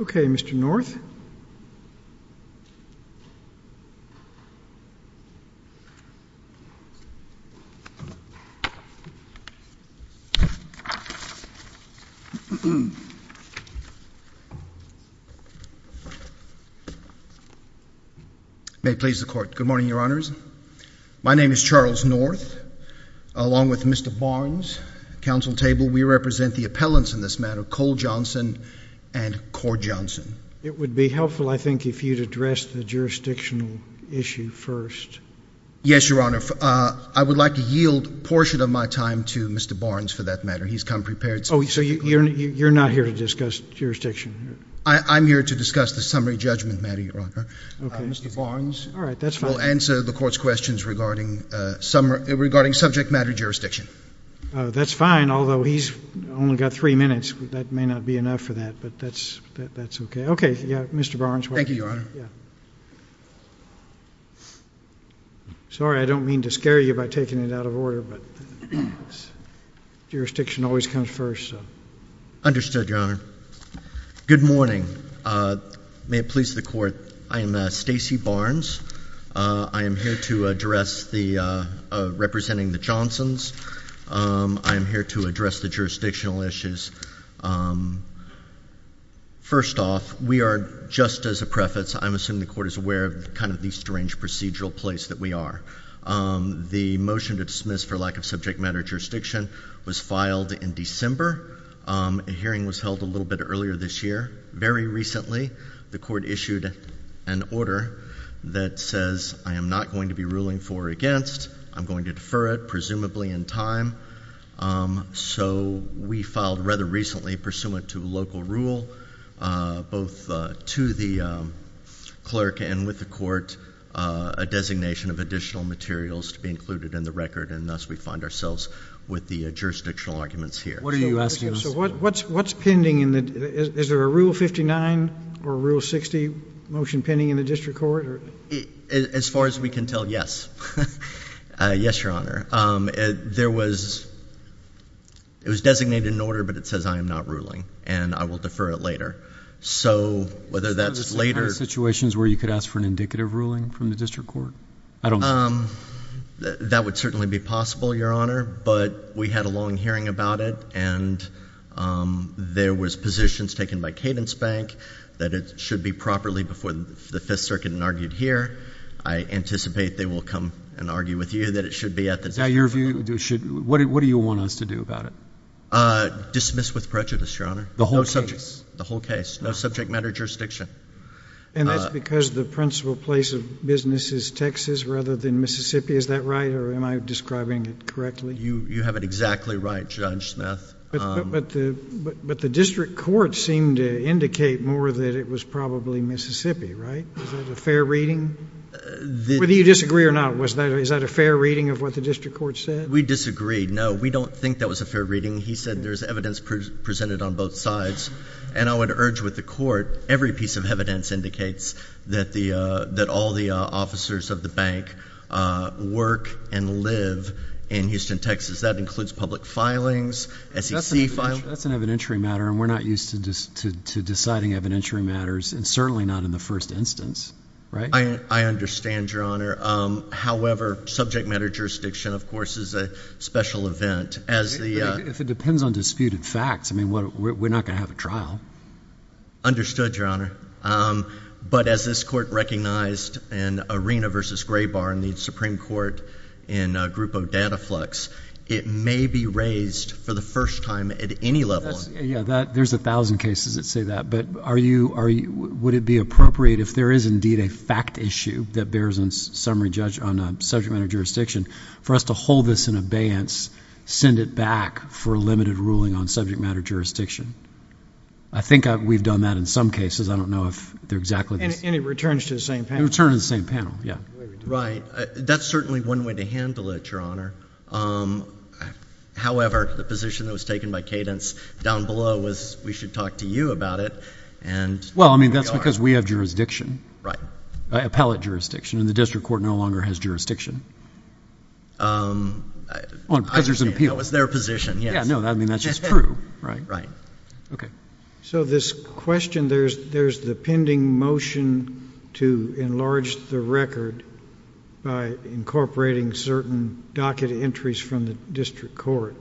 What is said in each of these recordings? Okay, Mr. North. May it please the Court. Good morning, Your Honors. My name is Charles North, along with Mr. Barnes, Council Table. We represent the appellants in this matter, Cole Johnson and Cord Johnson. It would be helpful, I think, if you'd address the jurisdictional issue first. Yes, Your Honor. I would like to yield a portion of my time to Mr. Barnes for that matter. He's come prepared. Oh, so you're not here to discuss jurisdiction? I'm here to discuss the summary judgment matter, Your Honor. Okay. Mr. Barnes will answer the Court's questions regarding subject matter jurisdiction. That's fine, although he's only got three minutes. That may not be enough for that, but that's okay. Okay. Yeah, Mr. Barnes. Thank you, Your Honor. Sorry, I don't mean to scare you by taking it out of order, but jurisdiction always comes first. Understood, Your Honor. Good morning. May it please the Court. I am Stacey Barnes. I am here to address the—representing the Johnsons. I am here to address the jurisdictional issues. First off, we are, just as a preface, I'm assuming the Court is aware of kind of the strange procedural place that we are. The motion to dismiss for lack of subject matter jurisdiction was filed in December. A hearing was held a little bit earlier this year. Very recently, the Court issued an order that says, I am not going to be ruling for or against. I'm going to defer it, presumably in time. So we filed rather recently, pursuant to local rule, both to the clerk and with the Court, a designation of additional materials to be included in the record, and thus we find ourselves with the jurisdictional arguments here. What are you asking us? So what's pending? Is there a Rule 59 or Rule 60 motion pending in the District Court? As far as we can tell, yes. Yes, Your Honor. There was—it was designated in order, but it says, I am not ruling, and I will defer it later. So, whether that's later— Is there a situation where you could ask for an indicative ruling from the District Court? That would certainly be possible, Your Honor, but we had a long hearing about it, and there was positions taken by Cadence Bank that it should be properly before the Fifth Circuit and argued here. I anticipate they will come and argue with you that it should be at the District Court. Now, your view, what do you want us to do about it? Dismiss with prejudice, Your Honor. The whole case? The whole case. No subject matter jurisdiction. And that's because the principal place of business is Texas rather than Mississippi. Is that right, or am I describing it correctly? You have it exactly right, Judge Smith. But the District Court seemed to indicate more that it was probably Mississippi, right? Is that a fair reading? Whether you disagree or not, was that—is that a fair reading of what the District Court said? We disagreed. No, we don't think that was a fair reading. He said there's evidence presented on both sides. And I would urge with the Court, every piece of evidence indicates that all the officers of the bank work and live in Houston, Texas. Because that includes public filings, SEC filings. That's an evidentiary matter, and we're not used to deciding evidentiary matters, and certainly not in the first instance, right? I understand, Your Honor. However, subject matter jurisdiction, of course, is a special event. As the— If it depends on disputed facts, I mean, we're not going to have a trial. Understood, Your Honor. But as this Court recognized in Arena v. Graybar in the Supreme Court in a group of Dataflux, it may be raised for the first time at any level— Yeah, that—there's a thousand cases that say that, but are you—would it be appropriate, if there is indeed a fact issue that bears on a summary judge on a subject matter jurisdiction, for us to hold this in abeyance, send it back for a limited ruling on subject matter jurisdiction? I think we've done that in some cases. I don't know if they're exactly the same. And it returns to the same panel. It returns to the same panel, yeah. Right. That's certainly one way to handle it, Your Honor. However, the position that was taken by Cadence down below was, we should talk to you about it, and— Well, I mean, that's because we have jurisdiction. Right. Appellate jurisdiction. And the District Court no longer has jurisdiction. I understand. On pleasures of appeal. That was their position, yes. Yeah, no, I mean, that's just true, right? Right. Okay. So this question, there's the pending motion to enlarge the record by incorporating certain docket entries from the District Court.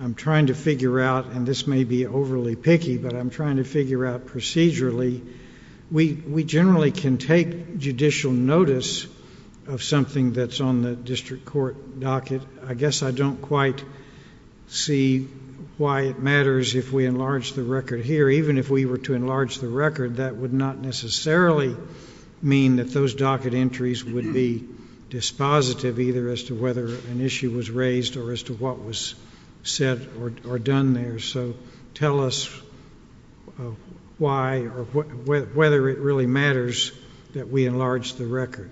I'm trying to figure out, and this may be overly picky, but I'm trying to figure out procedurally, we generally can take judicial notice of something that's on the District Court docket. I guess I don't quite see why it matters if we enlarge the record here. Even if we were to enlarge the record, that would not necessarily mean that those docket entries would be dispositive either as to whether an issue was raised or as to what was said or done there. So tell us why or whether it really matters that we enlarge the record.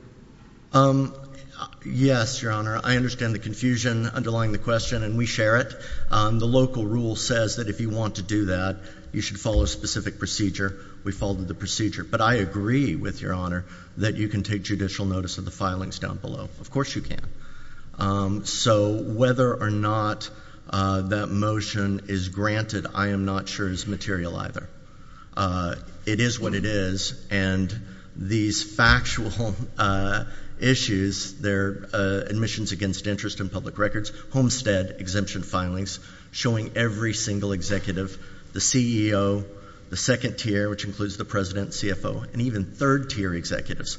Yes, Your Honor. I understand the confusion underlying the question, and we share it. The local rule says that if you want to do that, you should follow a specific procedure. We followed the procedure. But I agree with Your Honor that you can take judicial notice of the filings down below. Of course you can. So whether or not that motion is granted, I am not sure is material either. It is what it is. And these factual issues, their admissions against interest in public records, homestead exemption filings, showing every single executive, the CEO, the second tier, which includes the President, CFO, and even third-tier executives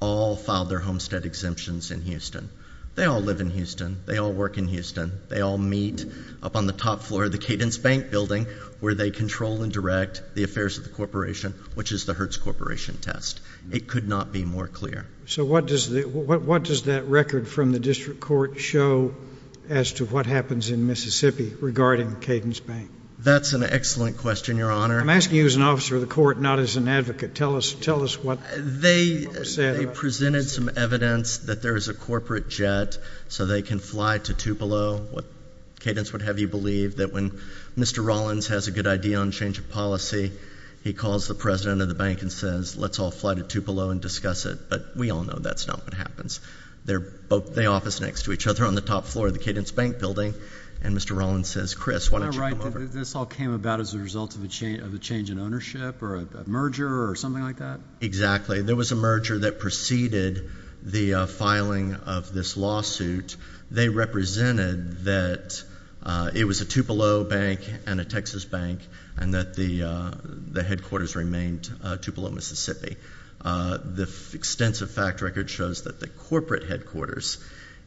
all filed their homestead exemptions in Houston. They all live in Houston. They all work in Houston. They all meet up on the top floor of the Cadence Bank building where they control and direct the affairs of the corporation, which is the Hertz Corporation test. It could not be more clear. So what does that record from the district court show as to what happens in Mississippi regarding Cadence Bank? That's an excellent question, Your Honor. I'm asking you as an officer of the court, not as an advocate. Tell us what people have said about it. They presented some evidence that there is a corporate jet so they can fly to Tupelo, what Cadence would have you believe that when Mr. Rollins has a good idea on change of policy, he calls the president of the bank and says, let's all fly to Tupelo and discuss it. But we all know that's not what happens. They office next to each other on the top floor of the Cadence Bank building, and Mr. Rollins says, Chris, why don't you come over? Am I right that this all came about as a result of a change in ownership or a merger or something like that? Exactly. There was a merger that preceded the filing of this lawsuit. They represented that it was a Tupelo bank and a Texas bank, and that the headquarters remained Tupelo, Mississippi. The extensive fact record shows that the corporate headquarters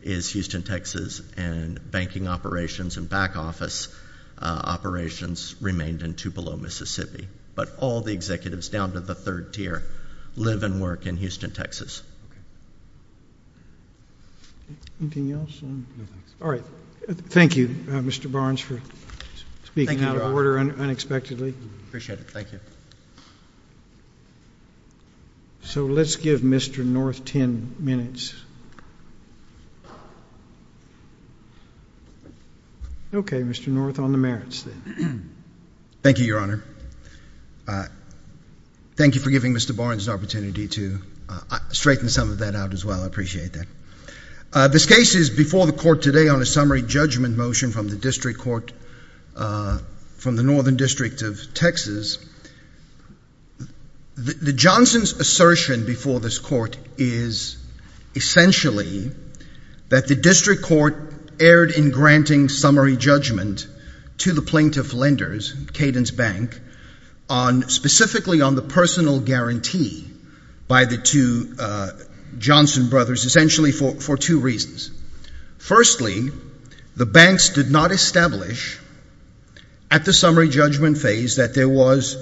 is Houston, Texas, and banking operations and back office operations remained in Tupelo, Mississippi. But all the executives down to the third tier live and work in Houston, Texas. Anything else? No, thanks. All right. Thank you, Mr. Barnes, for speaking out of order unexpectedly. Appreciate it. Thank you. So let's give Mr. North 10 minutes. Okay, Mr. North, on the merits, then. Thank you, Your Honor. Thank you for giving Mr. Barnes the opportunity to straighten some of that out as well. I appreciate that. This case is before the court today on a summary judgment motion from the district court from the Northern District of Texas. The Johnson's assertion before this court is essentially that the district court erred in granting summary judgment to the plaintiff lenders, Cadence Bank, specifically on the personal guarantee by the two Johnson brothers, essentially for two reasons. Firstly, the banks did not establish at the summary judgment phase that there was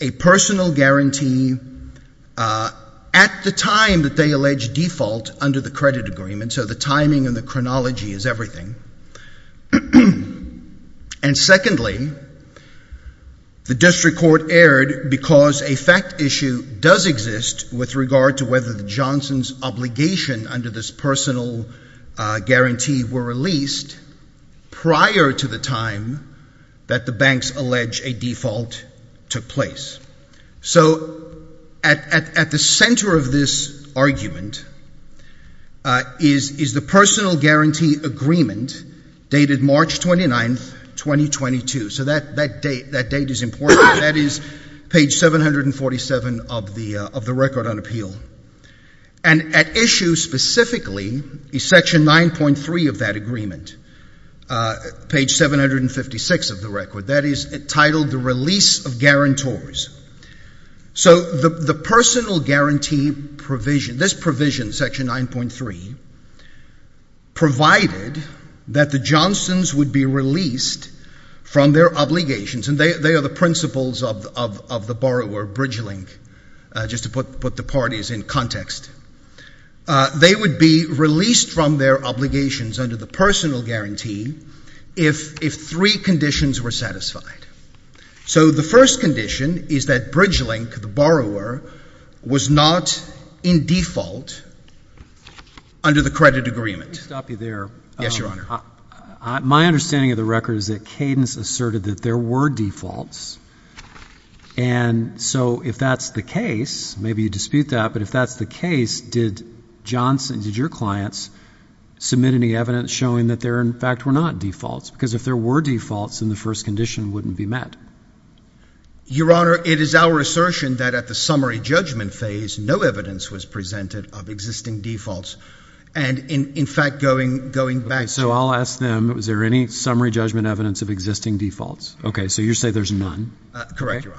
a personal guarantee at the time that they alleged default under the credit agreement, so the timing and the chronology is everything. And secondly, the district court erred because a fact issue does exist with regard to whether the Johnson's obligation under this personal guarantee were released prior to the time that the banks allege a default took place. So at the center of this argument is the personal guarantee agreement dated March 29, 2022. So that date is important. That is page 747 of the record on appeal. And at issue specifically is section 9.3 of that agreement, page 756 of the record. That is titled the release of guarantors. So the personal guarantee provision, this provision, section 9.3, provided that the Johnson's would be released from their obligations, and they are the principles of the borrower bridge link, just to put the parties in context. They would be released from their obligations under the personal guarantee if three conditions were satisfied. So the first condition is that bridge link, the borrower, was not in default under the credit agreement. Let me stop you there. Yes, Your Honor. My understanding of the record is that Cadence asserted that there were defaults, and so if that's the case, maybe you dispute that, but if that's the case, did Johnson, did your clients submit any evidence showing that there, in fact, were not defaults? Because if there were defaults, then the first condition wouldn't be met. Your Honor, it is our assertion that at the summary judgment phase, no evidence was presented of existing defaults. And in fact, going back to... So I'll ask them, is there any summary judgment evidence of existing defaults? Okay, so you say there's none. Correct, Your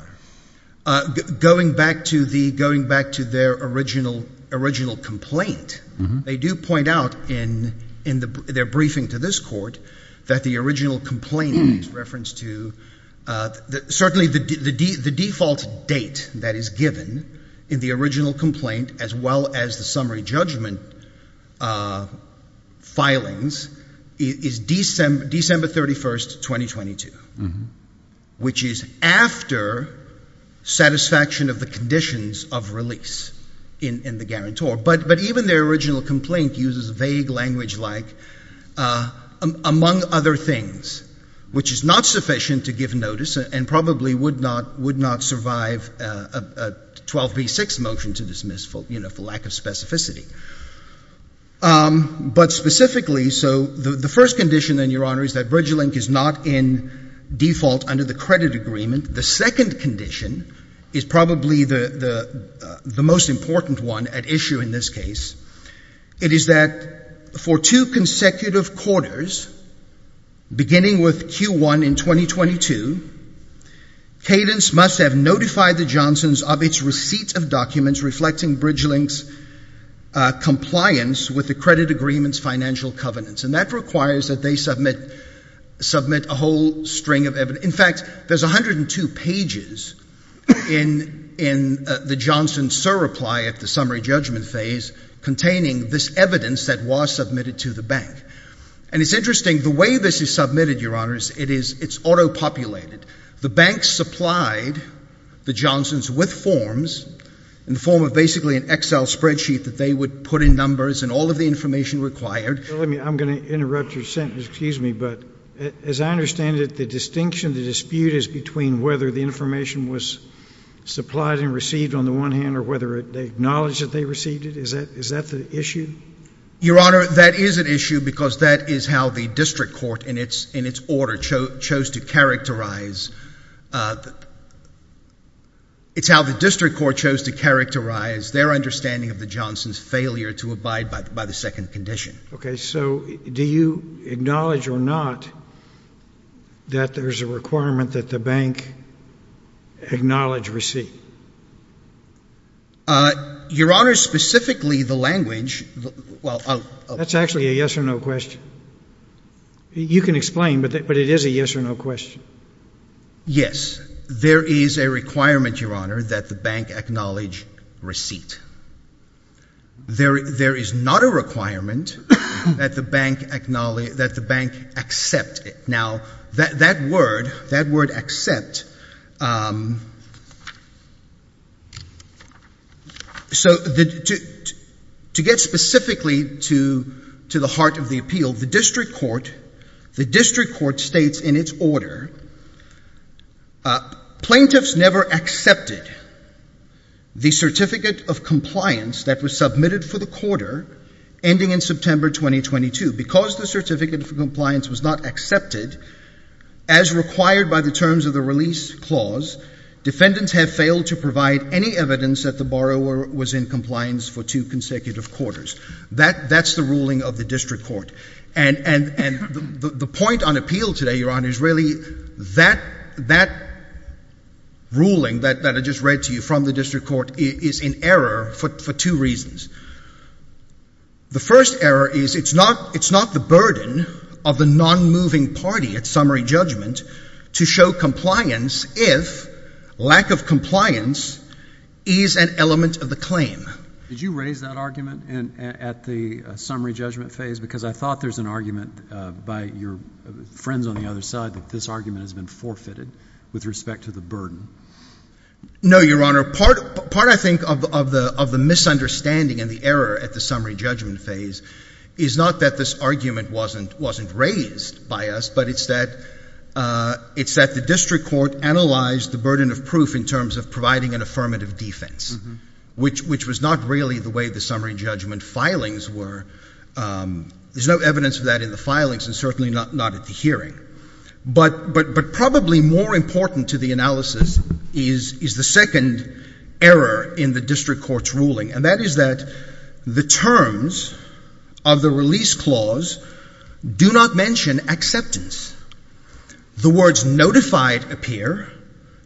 Honor. Going back to their original complaint, they do point out in their briefing to this court that the original complaint is referenced to, certainly the default date that is given in the original complaint as well as the summary judgment filings is December 31st, 2022, which is after satisfaction of the conditions of release in the guarantor. But even their original complaint uses vague language like, among other things, which is not sufficient to give notice and probably would not survive a 12b6 motion to dismiss for lack of specificity. But specifically, so the first condition, then, Your Honor, is that BridgeLink is not in default under the credit agreement. The second condition is probably the most important one at issue in this case. It is that for two consecutive quarters, beginning with Q1 in 2022, Cadence must have notified the Johnsons of its receipt of documents reflecting BridgeLink's compliance with the credit agreement's financial covenants. And that requires that they submit a whole string of evidence. In fact, there's 102 pages in the Johnson's surreply at the summary judgment phase containing this evidence that was submitted to the bank. And it's interesting, the way this is submitted, Your Honors, it is, it's auto-populated. The bank supplied the Johnsons with forms in the form of basically an Excel spreadsheet that they would put in numbers and all of the information required. Let me, I'm going to interrupt your sentence, excuse me. But as I understand it, the distinction, the dispute is between whether the information was supplied and received on the one hand or whether they acknowledged that they received it. Is that the issue? Your Honor, that is an issue because that is how the district court in its order chose to characterize, it's how the district court chose to characterize their understanding of the Johnsons' failure to abide by the second condition. Okay. So do you acknowledge or not that there's a requirement that the bank acknowledge receipt? Your Honor, specifically the language, well, I'll... That's actually a yes or no question. You can explain, but it is a yes or no question. Yes. There is a requirement, Your Honor, that the bank acknowledge receipt. There, there is not a requirement that the bank acknowledge, that the bank accept it. Now that, that word, that word accept, so to, to get specifically to, to the heart of the appeal, the district court, the district court states in its order, plaintiffs never accepted the certificate of compliance that was submitted for the quarter ending in September 2022. Because the certificate of compliance was not accepted as required by the terms of the release clause, defendants have failed to provide any evidence that the borrower was in compliance for two consecutive quarters. That, that's the ruling of the district court and, and, and the, the point on appeal today, Your Honor, is really that, that ruling that, that I just read to you from the district court is, is in error for, for two reasons. The first error is it's not, it's not the burden of the non-moving party at summary judgment to show compliance if lack of compliance is an element of the claim. Did you raise that argument in, at the summary judgment phase? Because I thought there's an argument by your friends on the other side that this argument has been forfeited with respect to the burden. No, Your Honor, part, part I think of, of the, of the misunderstanding and the error at the summary judgment phase is not that this argument wasn't, wasn't raised by us, but it's that, it's that the district court analyzed the burden of proof in terms of providing an affirmative defense, which, which was not really the way the summary judgment filings were. There's no evidence of that in the filings and certainly not, not at the hearing. But, but, but probably more important to the analysis is, is the second error in the district court's ruling, and that is that the terms of the release clause do not mention acceptance. The words notified appear.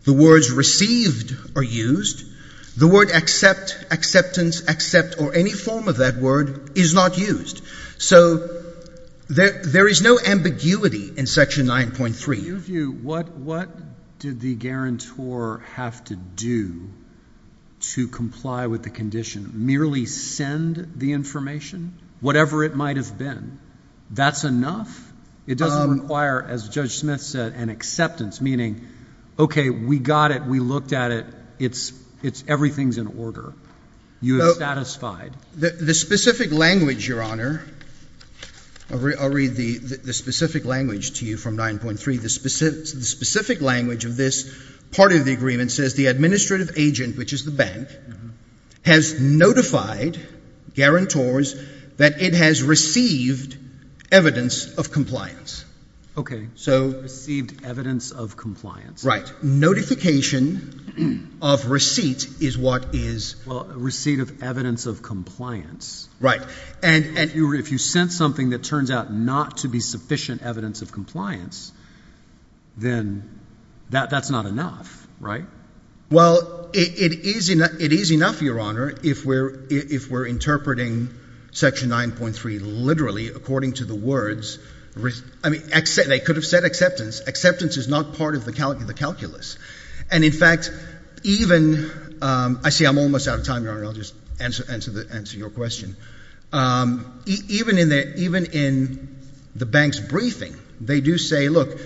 The words received are used. The word accept, acceptance, accept, or any form of that word is not used. So there, there is no ambiguity in Section 9.3. In your view, what, what did the guarantor have to do to comply with the condition? Merely send the information, whatever it might have been? That's enough? It doesn't require, as Judge Smith said, an acceptance, meaning, okay, we got it, we looked at it, it's, it's, everything's in order. You have satisfied. The, the specific language, Your Honor, I'll read, I'll read the, the specific language to you from 9.3. The specific, the specific language of this part of the agreement says the administrative agent, which is the bank, has notified, guarantors, that it has received evidence of compliance. Okay. So. Received evidence of compliance. Right. Notification of receipt is what is. Well, receipt of evidence of compliance. Right. And, and you, if you sent something that turns out not to be sufficient evidence of compliance, then that, that's not enough, right? Well, it, it is, it is enough, Your Honor, if we're, if we're interpreting Section 9.3 literally according to the words, I mean, they could have said acceptance. Acceptance is not part of the calculus. And in fact, even, I see I'm almost out of time, Your Honor, I'll just answer, answer the, answer your question. Even in the, even in the bank's briefing, they do say, look,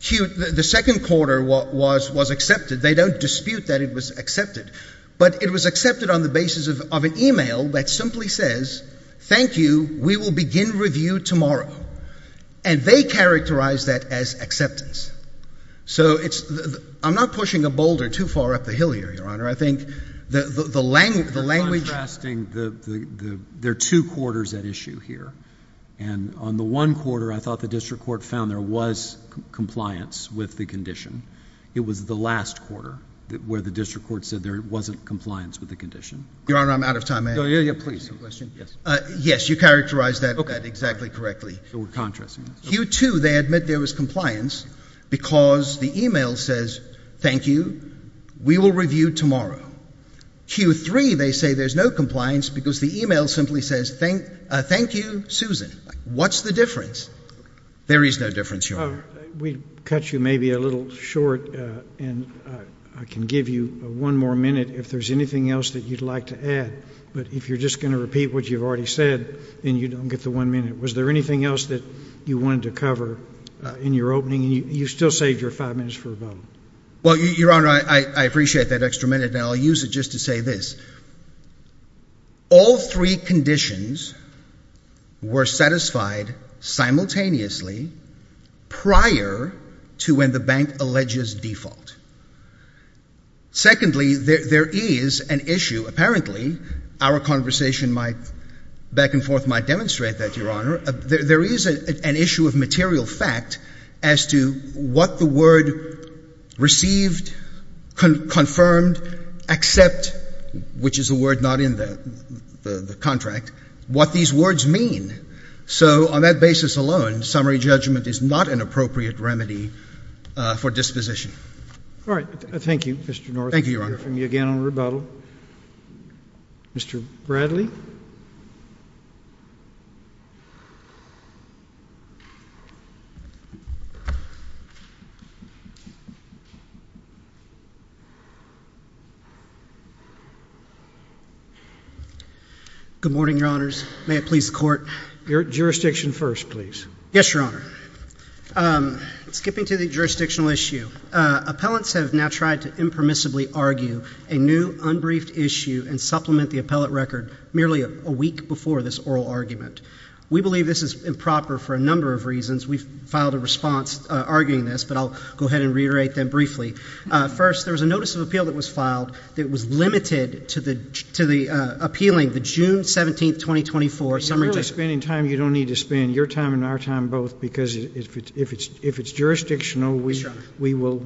Q, the second quarter was was accepted. They don't dispute that it was accepted. But it was accepted on the basis of, of an email that simply says, thank you, we will begin review tomorrow. And they characterize that as acceptance. So it's, I'm not pushing a boulder too far up the hill here, Your Honor. I think the, the, the language, the language. Contrasting the, the, the, there are two quarters at issue here. And on the one quarter, I thought the district court found there was compliance with the condition. It was the last quarter that, where the district court said there wasn't compliance with the condition. Your Honor, I'm out of time. Yeah, yeah, yeah, please. Yes. Yes. You characterized that, that exactly correctly. So we're contrasting. Q2, they admit there was compliance because the email says, thank you, we will review tomorrow. Q3, they say there's no compliance because the email simply says, thank, thank you, Susan. What's the difference? There is no difference, Your Honor. We cut you maybe a little short, and I can give you one more minute if there's anything else that you'd like to add. But if you're just going to repeat what you've already said, then you don't get the one minute. Was there anything else that you wanted to cover in your opening? You still saved your five minutes for a vote. Well, Your Honor, I appreciate that extra minute, and I'll use it just to say this. First, all three conditions were satisfied simultaneously prior to when the bank alleges default. Secondly, there is an issue, apparently, our conversation might, back and forth, might demonstrate that, Your Honor. There is an issue of material fact as to what the word received, confirmed, accept, which is a word not in the contract, what these words mean. So on that basis alone, summary judgment is not an appropriate remedy for disposition. All right. Thank you, Mr. North. Thank you, Your Honor. We'll hear from you again on rebuttal. Mr. Bradley? Good morning, Your Honors. May it please the Court? Jurisdiction first, please. Yes, Your Honor. Skipping to the jurisdictional issue, appellants have now tried to impermissibly argue a new unbriefed issue and supplement the appellate record merely a week before this oral argument. We believe this is improper for a number of reasons. We've filed a response arguing this, but I'll go ahead and reiterate them briefly. First, there was a notice of appeal that was filed that was limited to the appealing the June 17, 2024 summary judgment. You're really spending time you don't need to spend, your time and our time both, because if it's jurisdictional, we will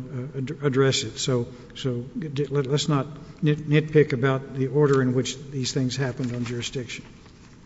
address it. So let's not nitpick about the order in which these things happened on jurisdiction.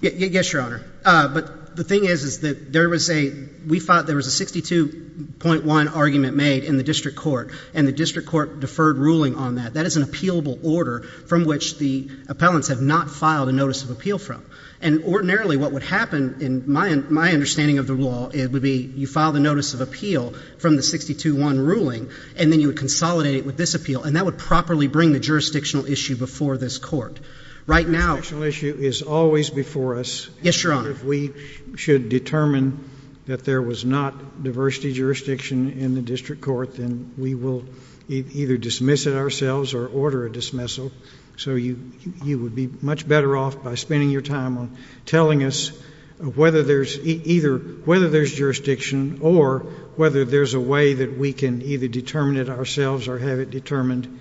Yes, Your Honor. But the thing is, is that there was a, we thought there was a 62.1 argument made in the district court and the district court deferred ruling on that. That is an appealable order from which the appellants have not filed a notice of appeal from. And ordinarily what would happen in my understanding of the law, it would be you file the notice of appeal from the 62.1 ruling and then you would consolidate it with this appeal and that would properly bring the jurisdictional issue before this court. Right now. The jurisdictional issue is always before us. Yes, Your Honor. And if we should determine that there was not diversity jurisdiction in the district court, then we will either dismiss it ourselves or order a dismissal. So you, you would be much better off by spending your time on telling us whether there's either, whether there's jurisdiction or whether there's a way that we can either determine it ourselves or have it determined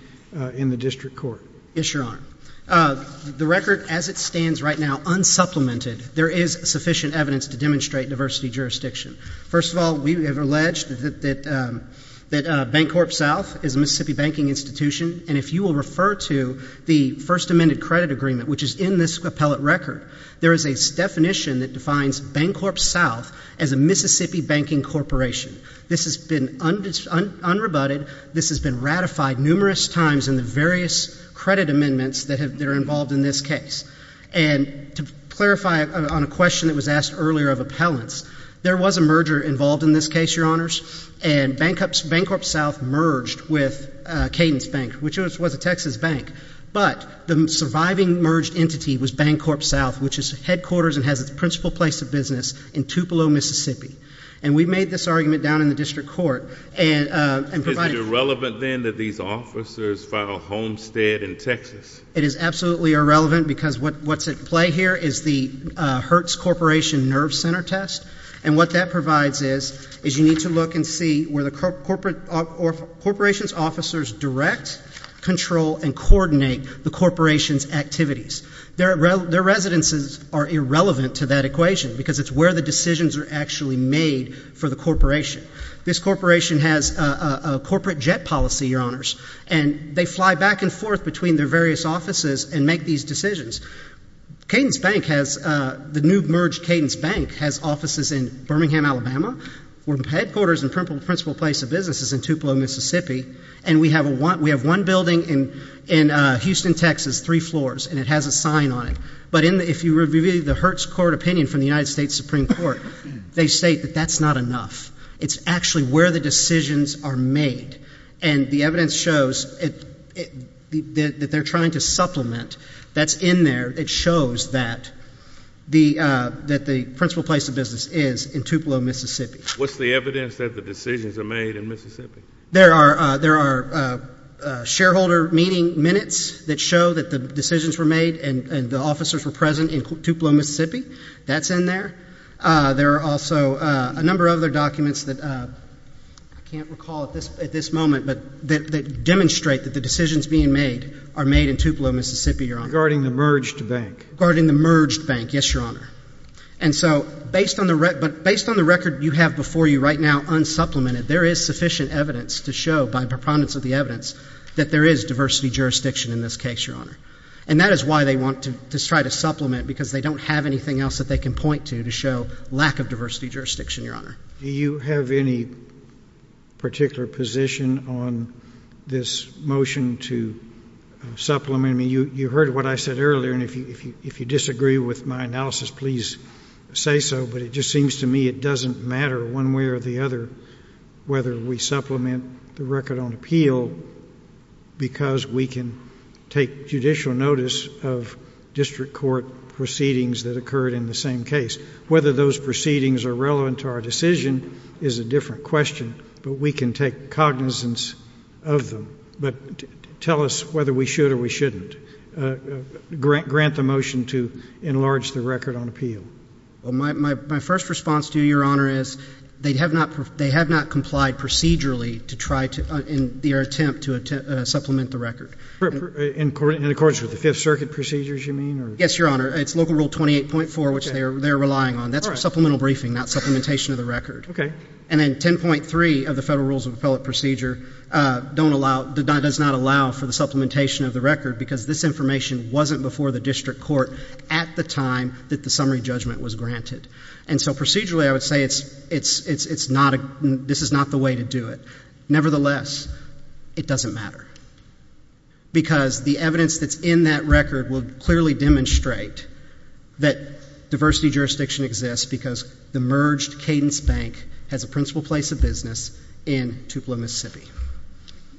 in the district court. Yes, Your Honor. The record as it stands right now, unsupplemented, there is sufficient evidence to demonstrate diversity jurisdiction. First of all, we have alleged that, that, that Bancorp South is a Mississippi banking institution and if you will refer to the first amended credit agreement, which is in this appellate record, there is a definition that defines Bancorp South as a Mississippi banking corporation. This has been unrebutted, this has been ratified numerous times in the various credit amendments that have, that are involved in this case. And to clarify on a question that was asked earlier of appellants, there was a merger involved in this case, Your Honors, and Bancorp South merged with Cadence Bank, which was a Texas bank, but the surviving merged entity was Bancorp South, which is headquarters and has its principal place of business in Tupelo, Mississippi. And we made this argument down in the district court and provided... Is it irrelevant then that these officers file homestead in Texas? It is absolutely irrelevant because what's at play here is the Hertz Corporation Nerve Center Test and what that provides is, is you need to look and see where the corporate corporation's officers direct, control, and coordinate the corporation's activities. Their residences are irrelevant to that equation because it's where the decisions are actually made for the corporation. This corporation has a corporate jet policy, Your Honors, and they fly back and forth between their various offices and make these decisions. Cadence Bank has, the new merged Cadence Bank has offices in Birmingham, Alabama, where headquarters and principal place of business is in Tupelo, Mississippi, and we have one building in Houston, Texas, three floors, and it has a sign on it. But if you review the Hertz Court opinion from the United States Supreme Court, they state that that's not enough. It's actually where the decisions are made, and the evidence shows that they're trying to supplement. That's in there. It shows that the principal place of business is in Tupelo, Mississippi. What's the evidence that the decisions are made in Mississippi? There are shareholder meeting minutes that show that the decisions were made and the officers were present in Tupelo, Mississippi. That's in there. There are also a number of other documents that I can't recall at this moment that demonstrate that the decisions being made are made in Tupelo, Mississippi, Your Honor. Regarding the merged bank. Regarding the merged bank, yes, Your Honor. And so, based on the record you have before you right now, unsupplemented, there is sufficient evidence to show, by preponderance of the evidence, that there is diversity jurisdiction in this case, Your Honor. And that is why they want to try to supplement, because they don't have anything else that they can point to to show lack of diversity jurisdiction, Your Honor. Do you have any particular position on this motion to supplement? You heard what I said earlier, and if you disagree with my analysis, please say so. But it just seems to me it doesn't matter one way or the other whether we supplement the record on appeal, because we can take judicial notice of district court proceedings that occurred in the same case. Whether those proceedings are relevant to our decision is a different question, but we can take cognizance of them. But tell us whether we should or we shouldn't grant the motion to enlarge the record on appeal. Well, my first response to you, Your Honor, is they have not complied procedurally to try to, in their attempt to supplement the record. In accordance with the Fifth Circuit procedures, you mean? Yes, Your Honor. It's Local Rule 28.4, which they're relying on. That's for supplemental briefing, not supplementation of the record. And then 10.3 of the Federal Rules of Appellate Procedure does not allow for the supplementation of the record, because this information wasn't before the district court at the time that the summary judgment was granted. And so procedurally, I would say this is not the way to do it. Nevertheless, it doesn't matter, because the evidence that's in that record will clearly demonstrate that diversity jurisdiction exists because the merged Cadence Bank has a principal place of business in Tupelo, Mississippi.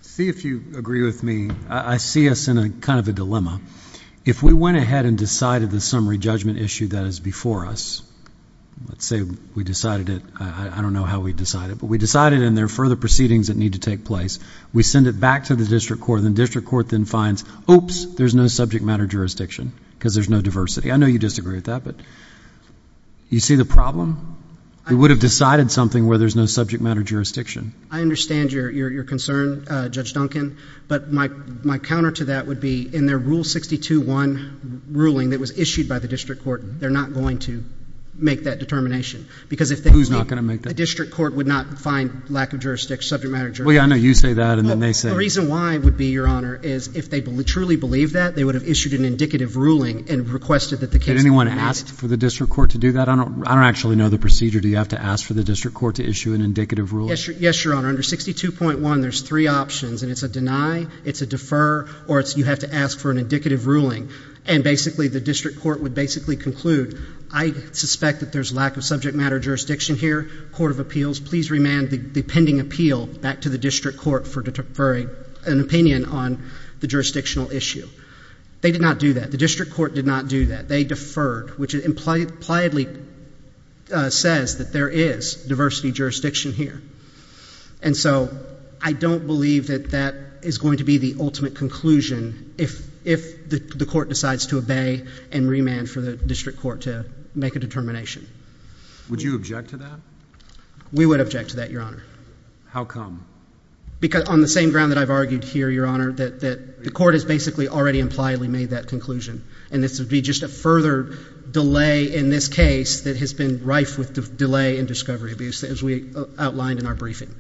See if you agree with me. I see us in a kind of a dilemma. If we went ahead and decided the summary judgment issue that is before us, let's say we decided it. I don't know how we decided it, but we decided and there are further proceedings that need to take place. We send it back to the district court, and the district court then finds, oops, there's no subject matter jurisdiction, because there's no diversity. I know you disagree with that, but you see the problem? We would have decided something where there's no subject matter jurisdiction. I understand your concern, Judge Duncan, but my counter to that would be in their Rule 62.1 ruling that was issued by the district court, they're not going to make that determination, because if they meet... Who's not going to make that? The district court would not find lack of jurisdiction, subject matter jurisdiction. Well, yeah, I know you say that, and then they say... The reason why would be, Your Honor, is if they truly believe that, they would have issued an indicative ruling and requested that the case be... Did anyone ask for the district court to do that? I don't actually know the procedure. Do you have to ask for the district court to issue an indicative ruling? Yes, Your Honor. Under 62.1, there's three options, and it's a deny, it's a defer, or you have to ask for an indicative ruling. And basically, the district court would basically conclude, I suspect that there's lack of subject matter jurisdiction here. please remand the pending appeal back to the district court for an opinion on the jurisdictional issue. They did not do that. The district court did not do that. They deferred, which impliedly says that there is diversity jurisdiction here. And so, I don't believe that that is going to be the ultimate conclusion if the court decides to obey and remand for the district court to make a determination. Would you object to that? We would object to that, Your Honor. How come? Because on the same ground that I've argued here, Your Honor, that the court has basically already impliedly made that conclusion, and this would be just a further delay in this case that has been rife with delay in discovery abuse, as we outlined in our briefing.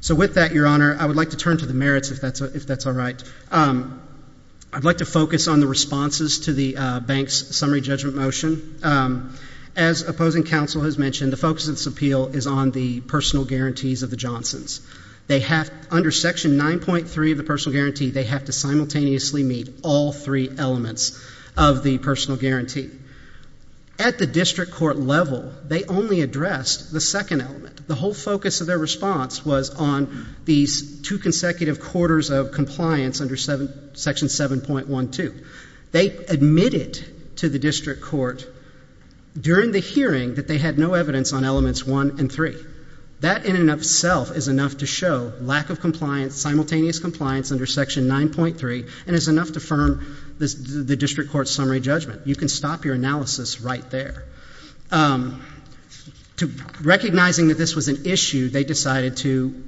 So with that, Your Honor, I would like to turn to the merits, if that's all right. I'd like to focus on the responses to the bank's summary judgment motion. As opposing counsel has mentioned, the focus of this appeal is on the personal guarantees of the Johnsons. Under Section 9.3 of the personal guarantee, they have to simultaneously meet all three elements of the personal guarantee. At the district court level, they only addressed the second element. The whole focus of their response was on these two consecutive quarters of compliance under Section 7.12. They admitted to the district court during the hearing that they had no evidence on elements one and three. That in and of itself is enough to show lack of compliance, simultaneous compliance under Section 9.3, and is enough to firm the district court's summary judgment. You can stop your analysis right there. Recognizing that this was an issue, they decided to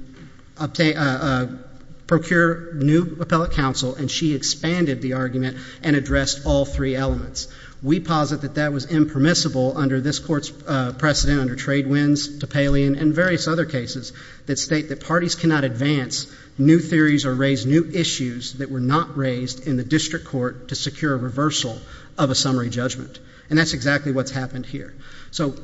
procure new appellate counsel, and she expanded the argument and addressed all three elements. We posit that that was impermissible under this court's precedent under Tradewinds, Topelian, and various other cases that state that parties cannot advance new theories or raise new issues that were not raised in the district court to secure a reversal of a summary judgment. And that's exactly what's happened here. So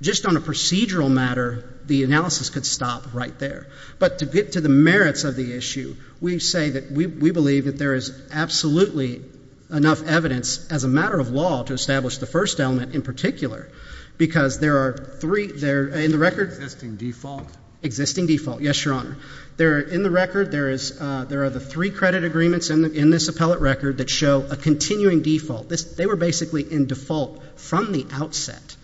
just on a procedural matter, the analysis could stop right there. But to get to the merits of the issue, we say that we believe that there is absolutely enough evidence as a matter of law to establish the first element in particular. Because there are three, in the record- Existing default. Existing default, yes, your honor. There are, in the record, there are the three credit agreements in this appellate record that show a continuing default. They were basically in default from the outset,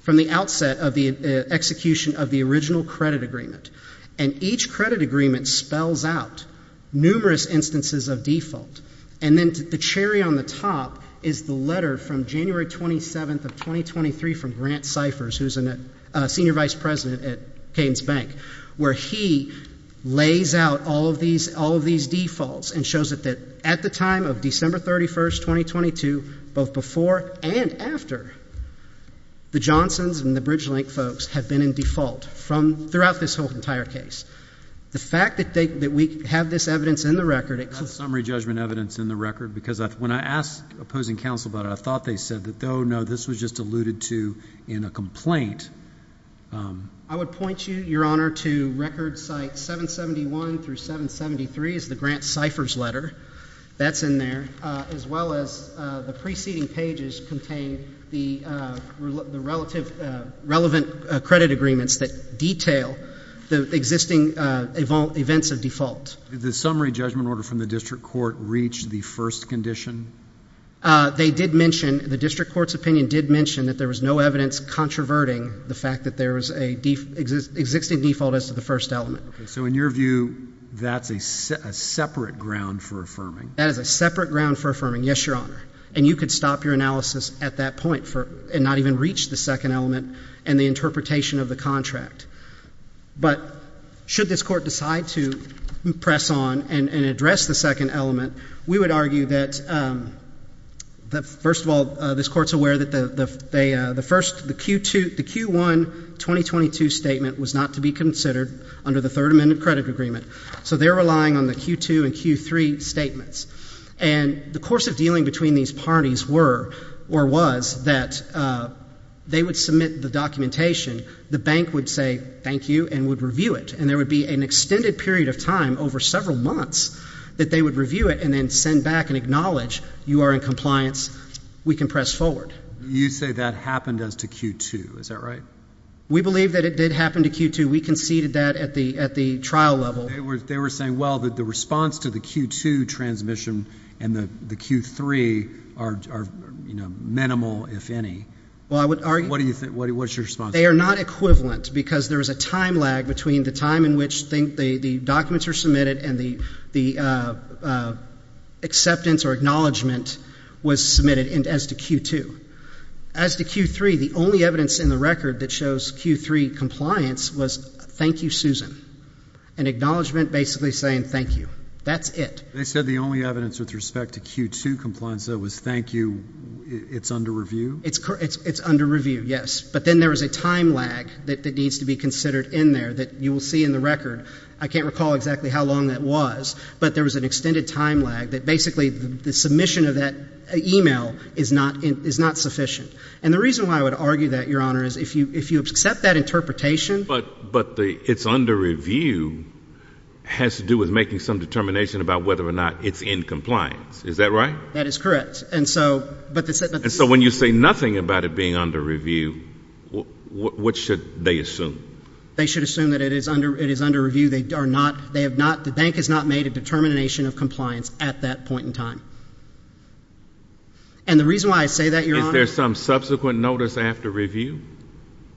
from the outset of the execution of the original credit agreement. And each credit agreement spells out numerous instances of default. And then the cherry on the top is the letter from January 27th of 2023 from Grant Cyphers, who's a senior vice president at Keynes Bank, where he lays out all of these defaults and shows that at the time of December 31st, 2022, both before and after, the Johnsons and the BridgeLink folks have been in default throughout this whole entire case. The fact that we have this evidence in the record- It has summary judgment evidence in the record, because when I asked opposing counsel about it, I thought they said that, no, this was just alluded to in a complaint. I would point you, your honor, to record site 771 through 773 is the Grant Cyphers letter. That's in there, as well as the preceding pages contain the relative, relevant credit agreements that detail the existing events of default. Did the summary judgment order from the district court reach the first condition? They did mention, the district court's opinion did mention that there was no evidence controverting the fact that there was an existing default as to the first element. So in your view, that's a separate ground for affirming? That is a separate ground for affirming, yes, your honor. And you could stop your analysis at that point and not even reach the second element and the interpretation of the contract. But should this court decide to press on and address the second element, we would argue that, first of all, this court's aware that the first, the Q1 2022 statement was not to be considered under the third amendment credit agreement. So they're relying on the Q2 and Q3 statements. And the course of dealing between these parties were or was that they would submit the documentation. The bank would say thank you and would review it. And there would be an extended period of time over several months that they would review and then send back and acknowledge you are in compliance, we can press forward. You say that happened as to Q2, is that right? We believe that it did happen to Q2. We conceded that at the trial level. They were saying, well, the response to the Q2 transmission and the Q3 are minimal, if any. What's your response? They are not equivalent, because there is a time lag between the time in which the documents are submitted and the acceptance or acknowledgement was submitted as to Q2. As to Q3, the only evidence in the record that shows Q3 compliance was thank you, Susan. An acknowledgement basically saying thank you. That's it. They said the only evidence with respect to Q2 compliance though was thank you, it's under review? It's under review, yes. But then there is a time lag that needs to be considered in there that you will see in the record. I can't recall exactly how long that was, but there was an extended time lag that basically the submission of that email is not sufficient. And the reason why I would argue that, Your Honor, is if you accept that interpretation. But it's under review has to do with making some determination about whether or not it's in compliance, is that right? That is correct. And so when you say nothing about it being under review, what should they assume? They should assume that it is under review. The bank has not made a determination of compliance at that point in time. And the reason why I say that, Your Honor- Is there some subsequent notice after review?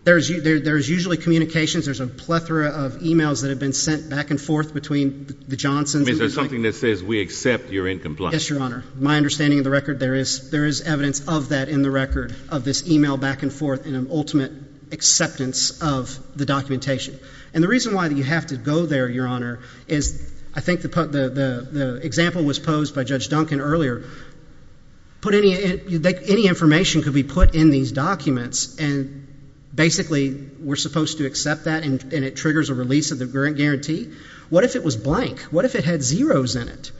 There's usually communications. There's a plethora of emails that have been sent back and forth between the Johnsons- Is there something that says we accept you're in compliance? Yes, Your Honor. My understanding of the record, there is evidence of that in the record. Of this email back and forth and an ultimate acceptance of the documentation. And the reason why you have to go there, Your Honor, is I think the example was posed by Judge Duncan earlier. Put any information could be put in these documents and basically we're supposed to accept that and it triggers a release of the guarantee. What if it was blank? What if it had zeros in it?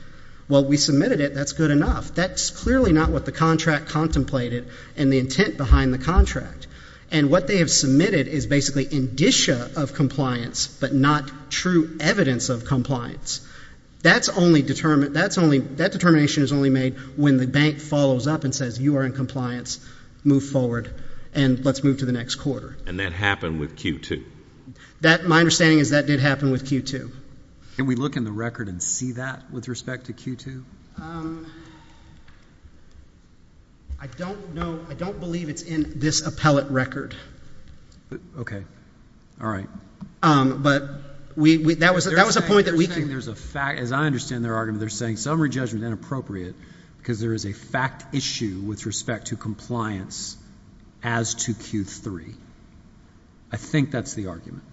Well, we submitted it, that's good enough. That's clearly not what the contract contemplated and the intent behind the contract. And what they have submitted is basically indicia of compliance, but not true evidence of compliance. That determination is only made when the bank follows up and says you are in compliance. Move forward and let's move to the next quarter. And that happened with Q2? My understanding is that did happen with Q2. Can we look in the record and see that with respect to Q2? I don't know, I don't believe it's in this appellate record. Okay, all right. But we, that was a point that we can- They're saying there's a fact, as I understand their argument, they're saying summary judgment is inappropriate because there is a fact issue with respect to compliance as to Q3. I think that's the argument.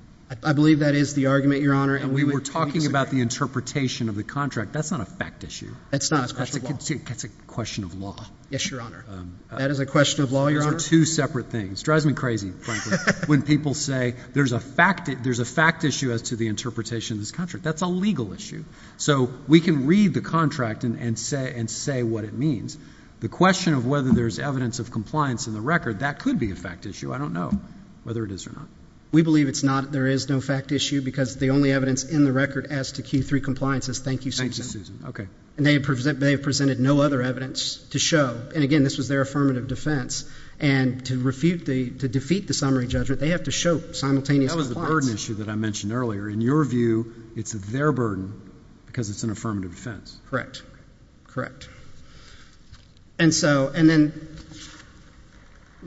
I believe that is the argument, Your Honor. And we were talking about the interpretation of the contract. That's not a fact issue. It's not. That's a question of law. That's a question of law. Yes, Your Honor. That is a question of law, Your Honor. Those are two separate things. It drives me crazy, frankly, when people say there's a fact issue as to the interpretation of this contract. That's a legal issue. So we can read the contract and say what it means. The question of whether there's evidence of compliance in the record, that could be a fact issue. I don't know whether it is or not. We believe it's not. There is no fact issue because the only evidence in the record as to Q3 compliance is thank you, Susan. Thank you, Susan. Okay. And they have presented no other evidence to show. And, again, this was their affirmative defense. And to defeat the summary judgment, they have to show simultaneous compliance. That was the burden issue that I mentioned earlier. In your view, it's their burden because it's an affirmative defense. Correct. Correct. And then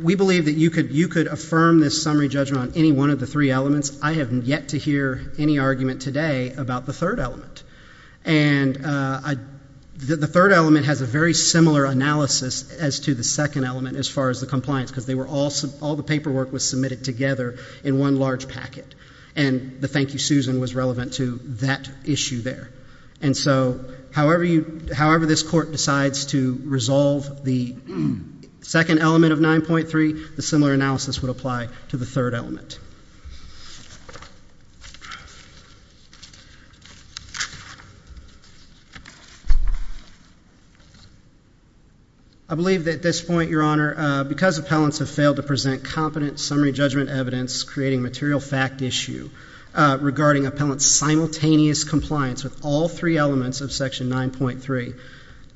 we believe that you could affirm this summary judgment on any one of the three elements. I have yet to hear any argument today about the third element. And the third element has a very similar analysis as to the second element as far as the compliance because all the paperwork was submitted together in one large packet. And the thank you, Susan was relevant to that issue there. And so however this court decides to resolve the second element of 9.3, the similar analysis would apply to the third element. I believe that at this point, Your Honor, because appellants have failed to present competent summary judgment evidence creating material fact issue regarding appellant's simultaneous compliance with all three elements of Section 9.3,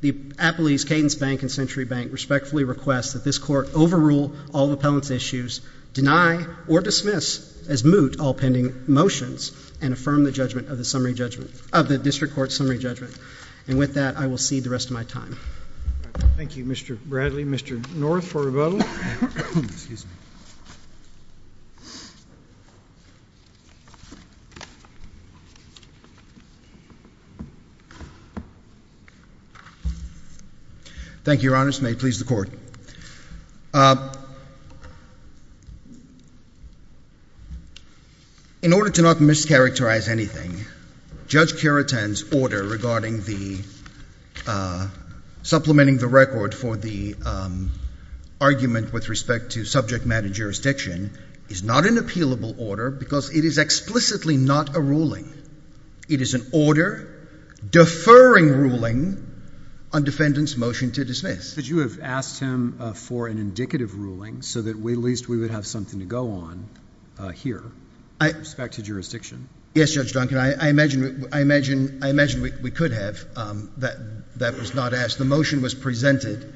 the Appellee's Cadence Bank and Century Bank respectfully request that this court overrule all appellant's issues, deny or dismiss as moot all pending motions, and affirm the judgment of the district court summary judgment. And with that, I will cede the rest of my time. Thank you, Mr. Bradley. Mr. North for rebuttal. Excuse me. Thank you, Your Honors. May it please the Court. In order to not mischaracterize anything, Judge Keraton's order regarding the supplementing the record for the argument with respect to subject matter jurisdiction is not an appealable order because it is explicitly not a ruling. It is an order deferring ruling on defendant's motion to dismiss. But you have asked him for an indicative ruling so that at least we would have something to go on here with respect to jurisdiction. Yes, Judge Duncan. I imagine we could have. That was not asked. The motion was presented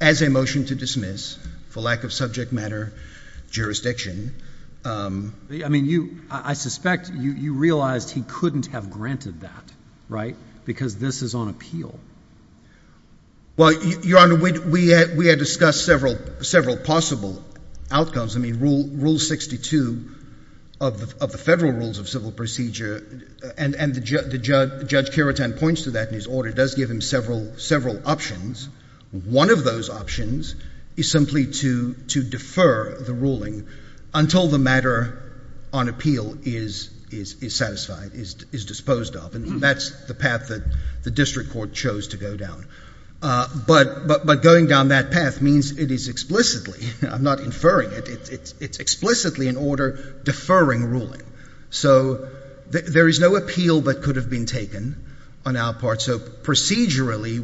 as a motion to dismiss for lack of subject matter jurisdiction. I mean, I suspect you realized he couldn't have granted that, right? Because this is on appeal. Well, Your Honor, we had discussed several possible outcomes. I mean, Rule 62 of the Federal Rules of Civil Procedure, and Judge Keraton points to that in his order, does give him several options. One of those options is simply to defer the ruling until the matter on appeal is satisfied, is disposed of. And that's the path that the district court chose to go down. But going down that path means it is explicitly. I'm not inferring it. It's explicitly an order deferring ruling. So there is no appeal that could have been taken on our part. So procedurally,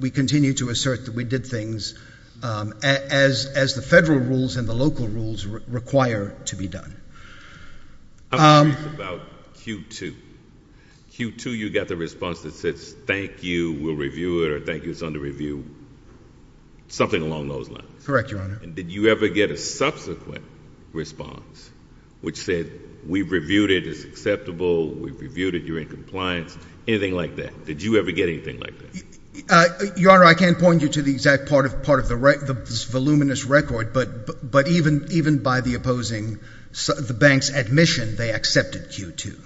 we continue to assert that we did things as the federal rules and the local rules require to be done. I'm curious about Q2. Q2, you got the response that says thank you, we'll review it, or thank you, it's under review. Something along those lines. Correct, Your Honor. Did you ever get a subsequent response which said we've reviewed it, it's acceptable, we've reviewed it, you're in compliance, anything like that? Did you ever get anything like that? Your Honor, I can't point you to the exact part of the voluminous record, but even by the opposing, the bank's admission, they accepted Q2.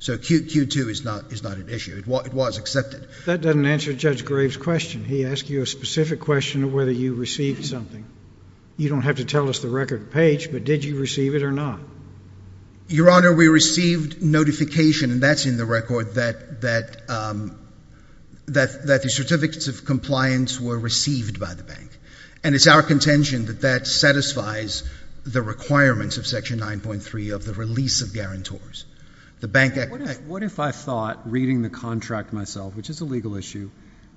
So Q2 is not an issue. It was accepted. That doesn't answer Judge Graves' question. He asked you a specific question of whether you received something. You don't have to tell us the record page, but did you receive it or not? Your Honor, we received notification, and that's in the record, that the certificates of compliance were received by the bank. And it's our contention that that satisfies the requirements of Section 9.3 of the release of guarantors. What if I thought, reading the contract myself, which is a legal issue,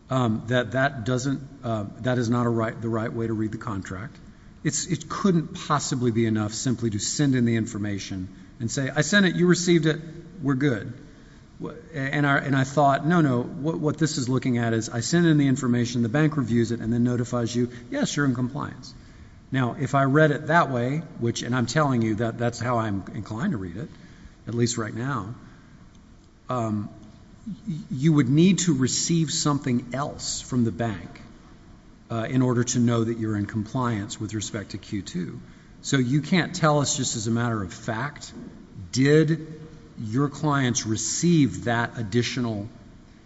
that that is not the right way to read the contract? It couldn't possibly be enough simply to send in the information and say, I sent it, you received it, we're good. And I thought, no, no, what this is looking at is I send in the information, the bank reviews it, and then notifies you, yes, you're in compliance. Now, if I read it that way, which, and I'm telling you that that's how I'm inclined to read it, at least right now, you would need to receive something else from the bank in order to know that you're in compliance with respect to Q2. So you can't tell us just as a matter of fact, did your clients receive that additional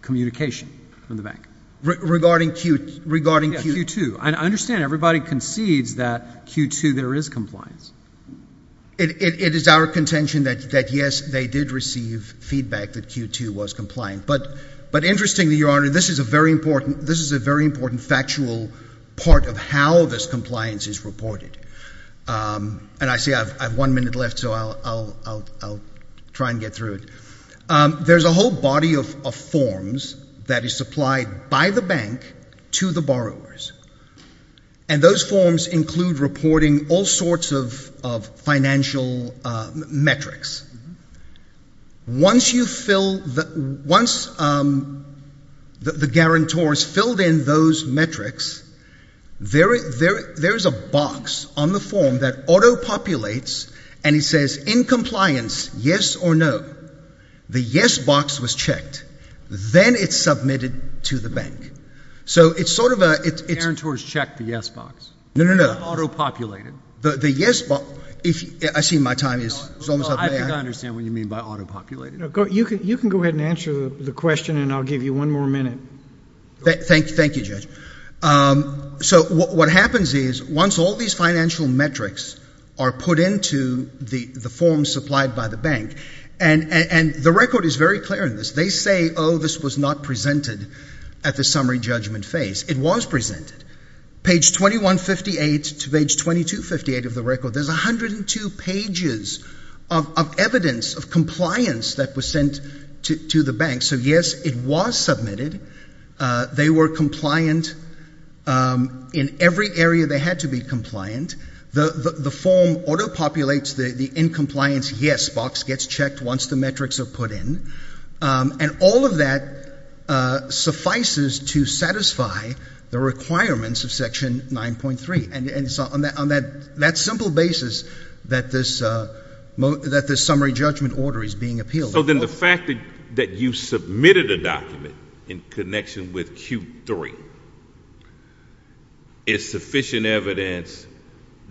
communication from the bank? Regarding Q2? I understand everybody concedes that Q2 there is compliance. It is our contention that, yes, they did receive feedback that Q2 was compliant. But interestingly, Your Honor, this is a very important factual part of how this compliance is reported. And I see I have one minute left, so I'll try and get through it. There's a whole body of forms that is supplied by the bank to the borrowers. And those forms include reporting all sorts of financial metrics. Once you fill, once the guarantor has filled in those metrics, there is a box on the form that auto-populates, and it says, in compliance, yes or no, the yes box was checked. Then it's submitted to the bank. So it's sort of a — The guarantor has checked the yes box. No, no, no. You have auto-populated. The yes box — I see my time is almost up. I don't understand what you mean by auto-populated. You can go ahead and answer the question, and I'll give you one more minute. Thank you, Judge. So what happens is, once all these financial metrics are put into the forms supplied by the bank, and the record is very clear in this, they say, oh, this was not presented at the summary judgment phase. It was presented. Page 2158 to page 2258 of the record, there's 102 pages of evidence of compliance that was sent to the bank. So, yes, it was submitted. They were compliant in every area they had to be compliant. The form auto-populates the in compliance yes box gets checked once the metrics are put in. And all of that suffices to satisfy the requirements of Section 9.3. And it's on that simple basis that this summary judgment order is being appealed. So then the fact that you submitted a document in connection with Q3 is sufficient evidence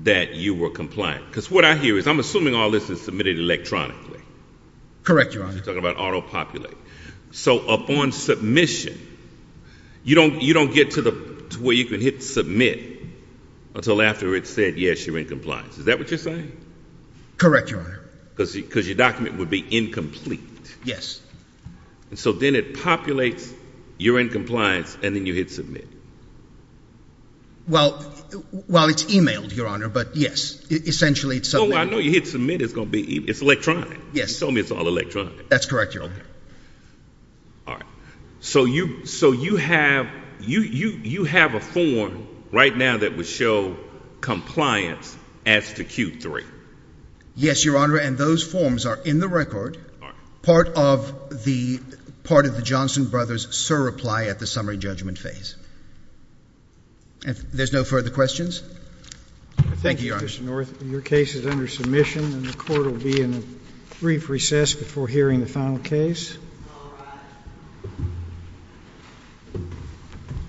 that you were compliant. Because what I hear is I'm assuming all this is submitted electronically. Correct, Your Honor. You're talking about auto-populate. So upon submission, you don't get to where you can hit submit until after it said, yes, you're in compliance. Is that what you're saying? Correct, Your Honor. Because your document would be incomplete. Yes. And so then it populates, you're in compliance, and then you hit submit. Well, it's emailed, Your Honor, but yes, essentially it's submitted. No, I know you hit submit. It's electronic. Yes. You told me it's all electronic. That's correct, Your Honor. All right. So you have a form right now that would show compliance as to Q3. Yes, Your Honor, and those forms are in the record, part of the Johnson brothers' surreply at the summary judgment phase. If there's no further questions. Thank you, Your Honor. Thank you, Mr. North. Your case is under submission, and the court will be in a brief recess before hearing the final case. All rise.